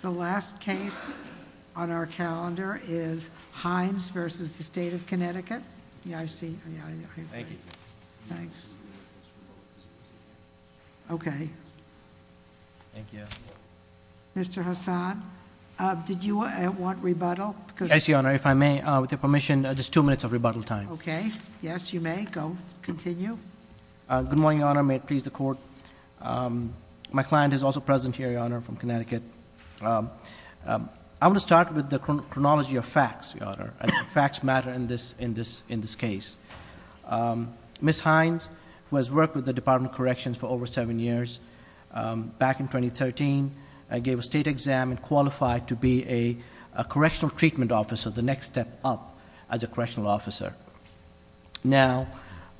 The last case on our calendar is Hines v. State of Connecticut. Yeah, I see. Thank you. Thanks. Okay. Thank you. Mr. Hassan, did you want rebuttal? Yes, Your Honor, if I may, with your permission, just two minutes of rebuttal time. Okay, yes, you may. Go, continue. Good morning, Your Honor. May it please the Court. My client is also present here, Your Honor, from Connecticut. I want to start with the chronology of facts, Your Honor, and facts matter in this case. Ms. Hines, who has worked with the Department of Corrections for over seven years, back in 2013 gave a state exam and qualified to be a correctional treatment officer, Now,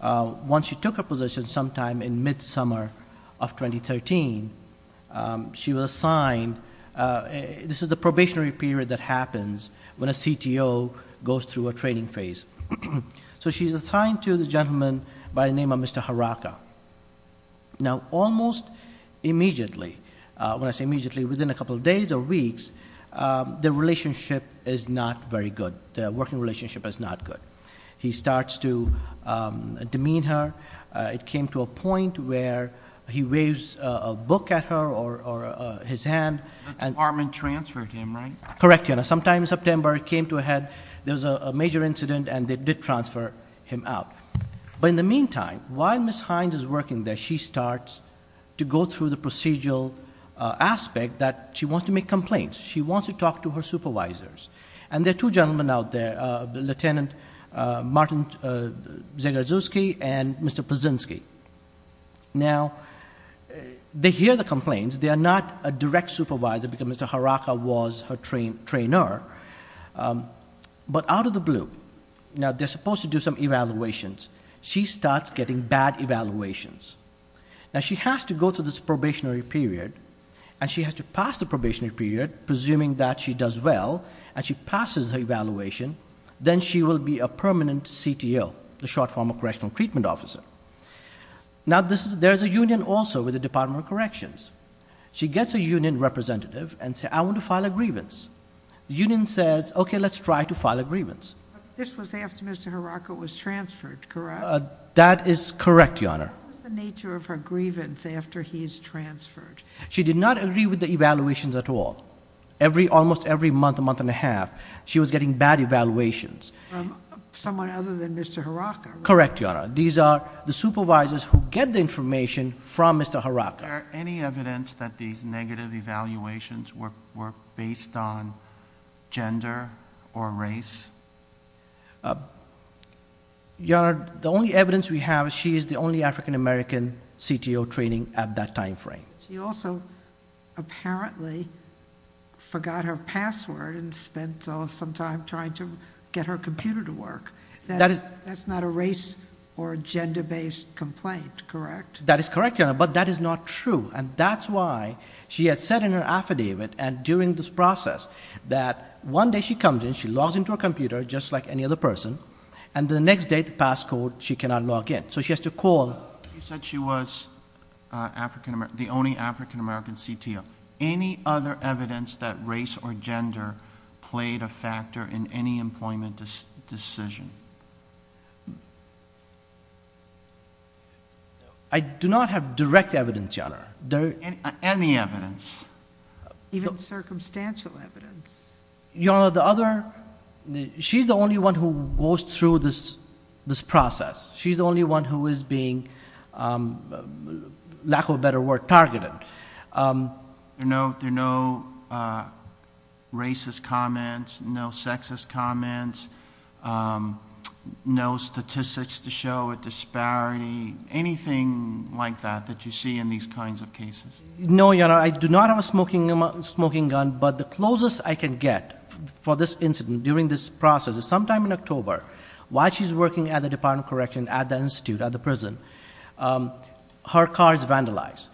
once she took her position sometime in mid-summer of 2013, she was assigned, this is the probationary period that happens when a CTO goes through a training phase. So she's assigned to this gentleman by the name of Mr. Haraka. Now, almost immediately, when I say immediately, within a couple of days or weeks, the relationship is not very good. The working relationship is not good. He starts to demean her. It came to a point where he waves a book at her or his hand. The department transferred him, right? Correct, Your Honor. Sometime in September, it came to a head. There was a major incident, and they did transfer him out. But in the meantime, while Ms. Hines is working there, she starts to go through the procedural aspect that she wants to make complaints. She wants to talk to her supervisors. And there are two gentlemen out there, Lieutenant Martin Zegersuski and Mr. Pazinski. Now, they hear the complaints. They are not a direct supervisor because Mr. Haraka was her trainer. But out of the blue, now, they're supposed to do some evaluations. She starts getting bad evaluations. Now, she has to go through this probationary period, and she has to pass the probationary period, presuming that she does well, and she passes her evaluation. Then she will be a permanent CTO, the short form of correctional treatment officer. Now, there's a union also with the Department of Corrections. She gets a union representative and says, I want to file a grievance. The union says, okay, let's try to file a grievance. This was after Mr. Haraka was transferred, correct? That is correct, Your Honor. What was the nature of her grievance after he's transferred? She did not agree with the evaluations at all. Almost every month, month and a half, she was getting bad evaluations. From someone other than Mr. Haraka? Correct, Your Honor. These are the supervisors who get the information from Mr. Haraka. Is there any evidence that these negative evaluations were based on gender or race? Your Honor, the only evidence we have, she is the only African-American CTO training at that time frame. She also apparently forgot her password and spent some time trying to get her computer to work. That's not a race or gender-based complaint, correct? That is correct, Your Honor, but that is not true. That's why she had said in her affidavit and during this process that one day she comes in, she logs into her computer just like any other person, and the next day, the passcode, she cannot log in. She has to call... You said she was the only African-American CTO. Any other evidence that race or gender played a factor in any employment decision? I do not have direct evidence, Your Honor. Any evidence? Even circumstantial evidence? Your Honor, the other... She's the only one who goes through this process. She's the only one who is being, lack of a better word, targeted. There are no racist comments, no sexist comments, no statistics to show a disparity, anything like that that you see in these kinds of cases? No, Your Honor. I do not have a smoking gun, but the closest I can get for this incident during this process is sometime in October while she's working at the Department of Correction at the institute, at the prison, her car is vandalized.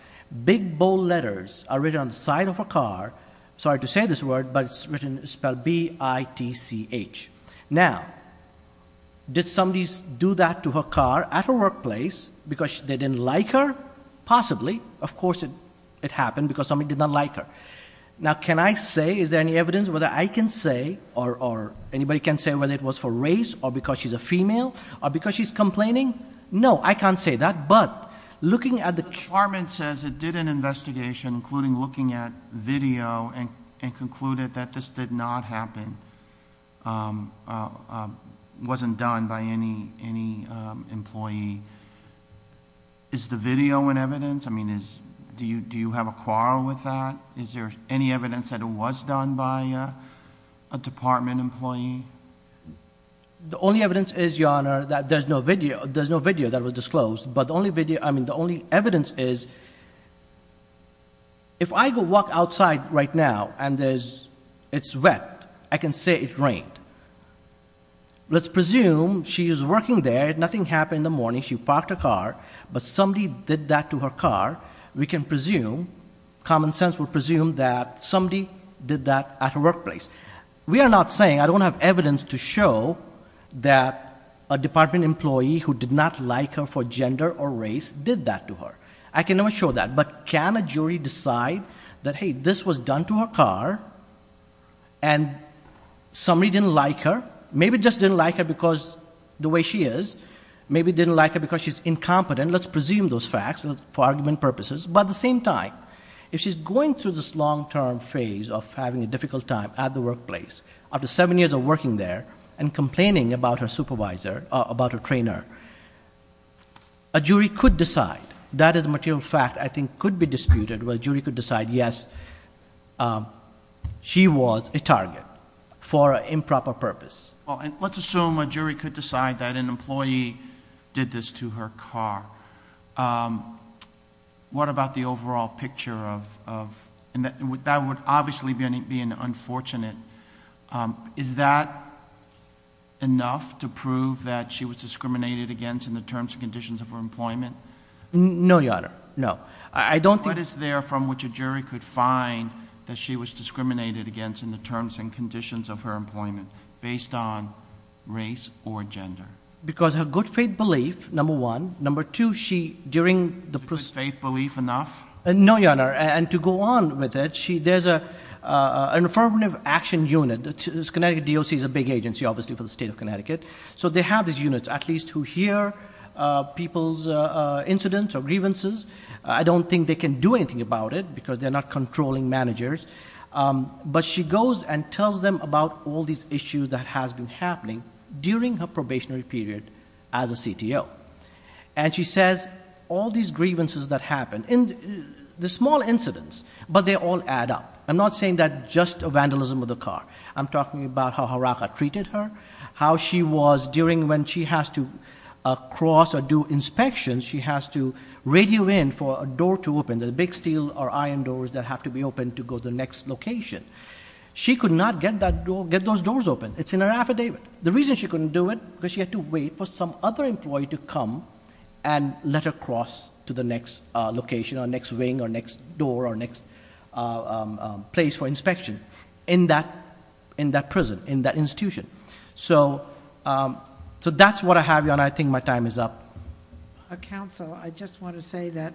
Big bold letters are written on the side of her car. Sorry to say this word, but it's spelled B-I-T-C-H. Now, did somebody do that to her car at her workplace because they didn't like her? Possibly. Of course it happened because somebody did not like her. Now, can I say, is there any evidence whether I can say or anybody can say whether it was for race or because she's a female or because she's complaining? No, I can't say that, but looking at the... The department says it did an investigation including looking at video and concluded that this did not happen, wasn't done by any employee. Is the video an evidence? Do you have a quarrel with that? Is there any evidence that it was done by a department employee? The only evidence is, Your Honor, that there's no video that was disclosed, but the only evidence is if I go walk outside right now and it's wet, I can say it rained. Let's presume she is working there, nothing happened in the morning, she parked her car, but somebody did that to her car. We can presume, common sense will presume that somebody did that at her workplace. We are not saying, I don't have evidence to show that a department employee who did not like her for gender or race did that to her. I can never show that, but can a jury decide that, hey, this was done to her car and somebody didn't like her, maybe just didn't like her because the way she is, maybe didn't like her because she's incompetent. Let's presume those facts for argument purposes. But at the same time, if she's going through this long-term phase of having a difficult time at the workplace, after seven years of working there and complaining about her supervisor, about her trainer, a jury could decide. That is a material fact I think could be disputed. A jury could decide, yes, she was a target for an improper purpose. Let's assume a jury could decide that an employee did this to her car. What about the overall picture? That would obviously be unfortunate. Is that enough to prove that she was discriminated against in the terms and conditions of her employment? No, Your Honor, no. What is there from which a jury could find that she was discriminated against in the terms and conditions of her employment based on race or gender? Because her good faith belief, number one. Number two, she, during the process... Her good faith belief enough? No, Your Honor, and to go on with it, there's an affirmative action unit. Connecticut DOC is a big agency obviously for the state of Connecticut. So they have these units at least who hear people's incidents or grievances. I don't think they can do anything about it because they're not controlling managers. But she goes and tells them about all these issues that have been happening during her probationary period as a CTO. And she says all these grievances that happened, the small incidents, but they all add up. I'm not saying that just a vandalism of the car. I'm talking about how Haraka treated her, how she was during when she has to cross or do inspections, she has to radio in for a door to open, the big steel or iron doors that have to be opened to go to the next location. She could not get those doors open. It's in her affidavit. The reason she couldn't do it is because she had to wait for some other employee to come and let her cross to the next location or next wing or next door or next place for inspection in that prison, in that institution. So that's what I have, Your Honor. I think my time is up. Counsel, I just want to say that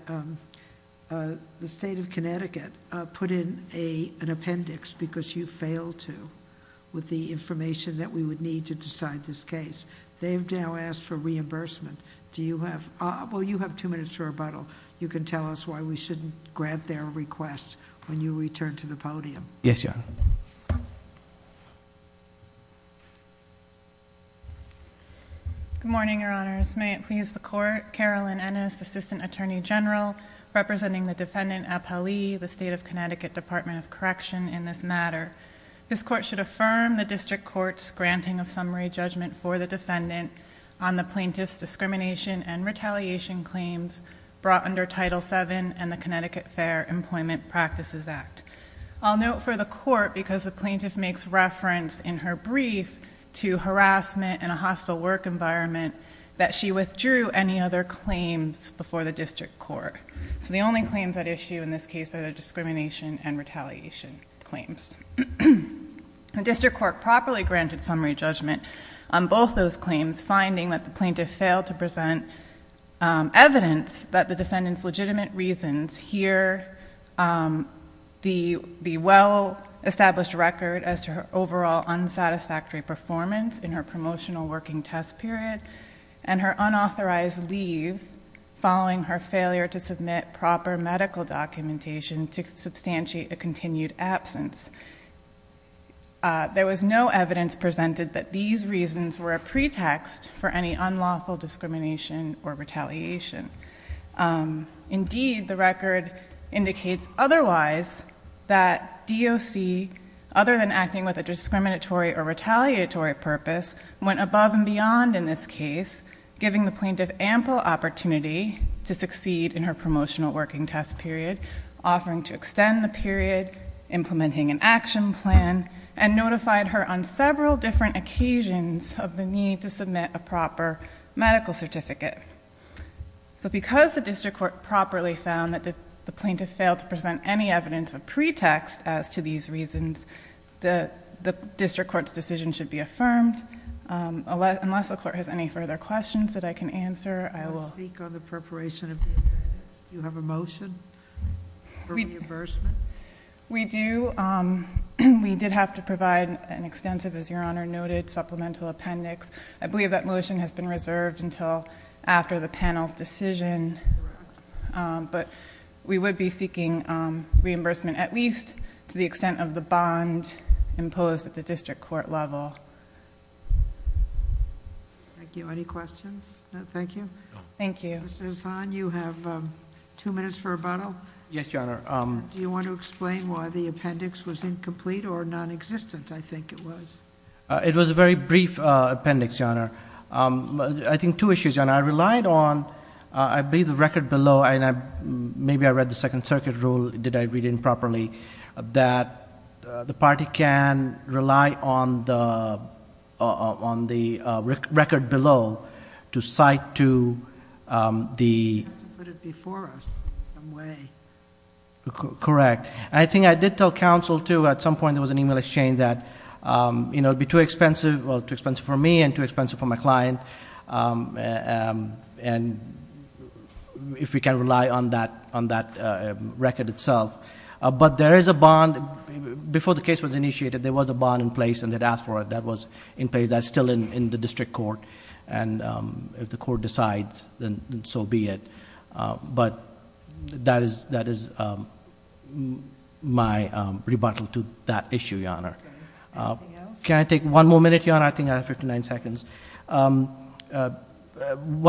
the state of Connecticut put in an appendix because you failed to with the information that we would need to decide this case. They've now asked for reimbursement. Do you have... well, you have two minutes to rebuttal. You can tell us why we shouldn't grant their request when you return to the podium. Yes, Your Honor. Good morning, Your Honors. May it please the Court. Carolyn Ennis, Assistant Attorney General, representing the defendant, the State of Connecticut Department of Correction in this matter. This court should affirm the district court's granting of summary judgment for the defendant on the plaintiff's discrimination and retaliation claims brought under Title VII and the Connecticut Fair Employment Practices Act. I'll note for the court, because the plaintiff makes reference in her brief to harassment and a hostile work environment, that she withdrew any other claims before the district court. So the only claims at issue in this case are the discrimination and retaliation claims. The district court properly granted summary judgment on both those claims, finding that the plaintiff failed to present evidence that the defendant's legitimate reasons here, the well-established record as to her overall unsatisfactory performance in her promotional working test period, and her unauthorized leave following her failure to submit proper medical documentation to substantiate a continued absence. There was no evidence presented that these reasons were a pretext for any unlawful discrimination or retaliation. Indeed, the record indicates otherwise that DOC, other than acting with a discriminatory or retaliatory purpose, went above and beyond in this case, giving the plaintiff ample opportunity to succeed in her promotional working test period, offering to extend the period, implementing an action plan, and notified her on several different occasions of the need to submit a proper medical certificate. So because the district court properly found that the plaintiff failed to present any evidence of pretext as to these reasons, the district court's decision should be affirmed. Unless the court has any further questions that I can answer, I will speak on the preparation of the appendix. Do you have a motion for reimbursement? We do. We did have to provide an extensive, as Your Honor noted, supplemental appendix. I believe that motion has been reserved until after the panel's decision. But we would be seeking reimbursement at least to the extent of the bond imposed at the district court level. Thank you. Any questions? No, thank you. Thank you. Mr. Hasan, you have two minutes for rebuttal. Yes, Your Honor. Do you want to explain why the appendix was incomplete or nonexistent, I think it was? It was a very brief appendix, Your Honor. I think two issues, Your Honor. I relied on, I believe the record below, and maybe I read the Second Circuit rule, did I read it properly, that the party can rely on the record below to cite to the- You have to put it before us in some way. Correct. I think I did tell counsel, too, at some point there was an email exchange that, you know, it would be too expensive, well, too expensive for me and too expensive for my client, and if we can rely on that record itself. But there is a bond. Before the case was initiated, there was a bond in place, and they'd asked for it. That was in place. That's still in the district court, and if the court decides, then so be it. Anything else? Can I take one more minute, Your Honor? I think I have 59 seconds. One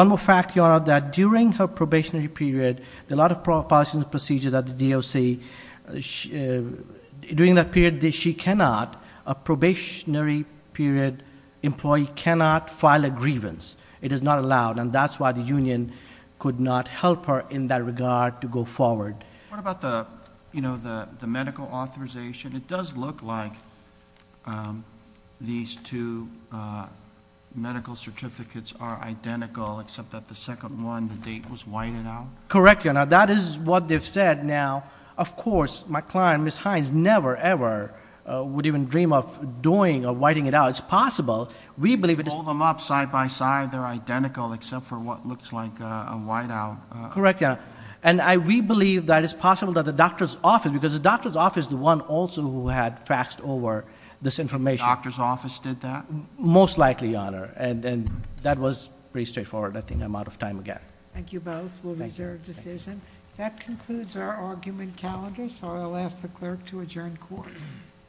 more fact, Your Honor, that during her probationary period, a lot of policy and procedures at the DOC, during that period she cannot, a probationary period employee cannot file a grievance. It is not allowed, and that's why the union could not help her in that regard to go forward. What about the medical authorization? It does look like these two medical certificates are identical, except that the second one, the date was whited out. Correct, Your Honor. That is what they've said. Now, of course, my client, Ms. Hines, never, ever would even dream of doing or whiting it out. It's possible. We believe it is. Pull them up side by side. Correct, Your Honor. We believe that it's possible that the doctor's office, because the doctor's office is the one also who had faxed over this information. The doctor's office did that? Most likely, Your Honor. That was pretty straightforward. I think I'm out of time again. Thank you both. We'll reserve decision. That concludes our argument calendar, so I'll ask the clerk to adjourn court.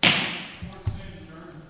Court is adjourned.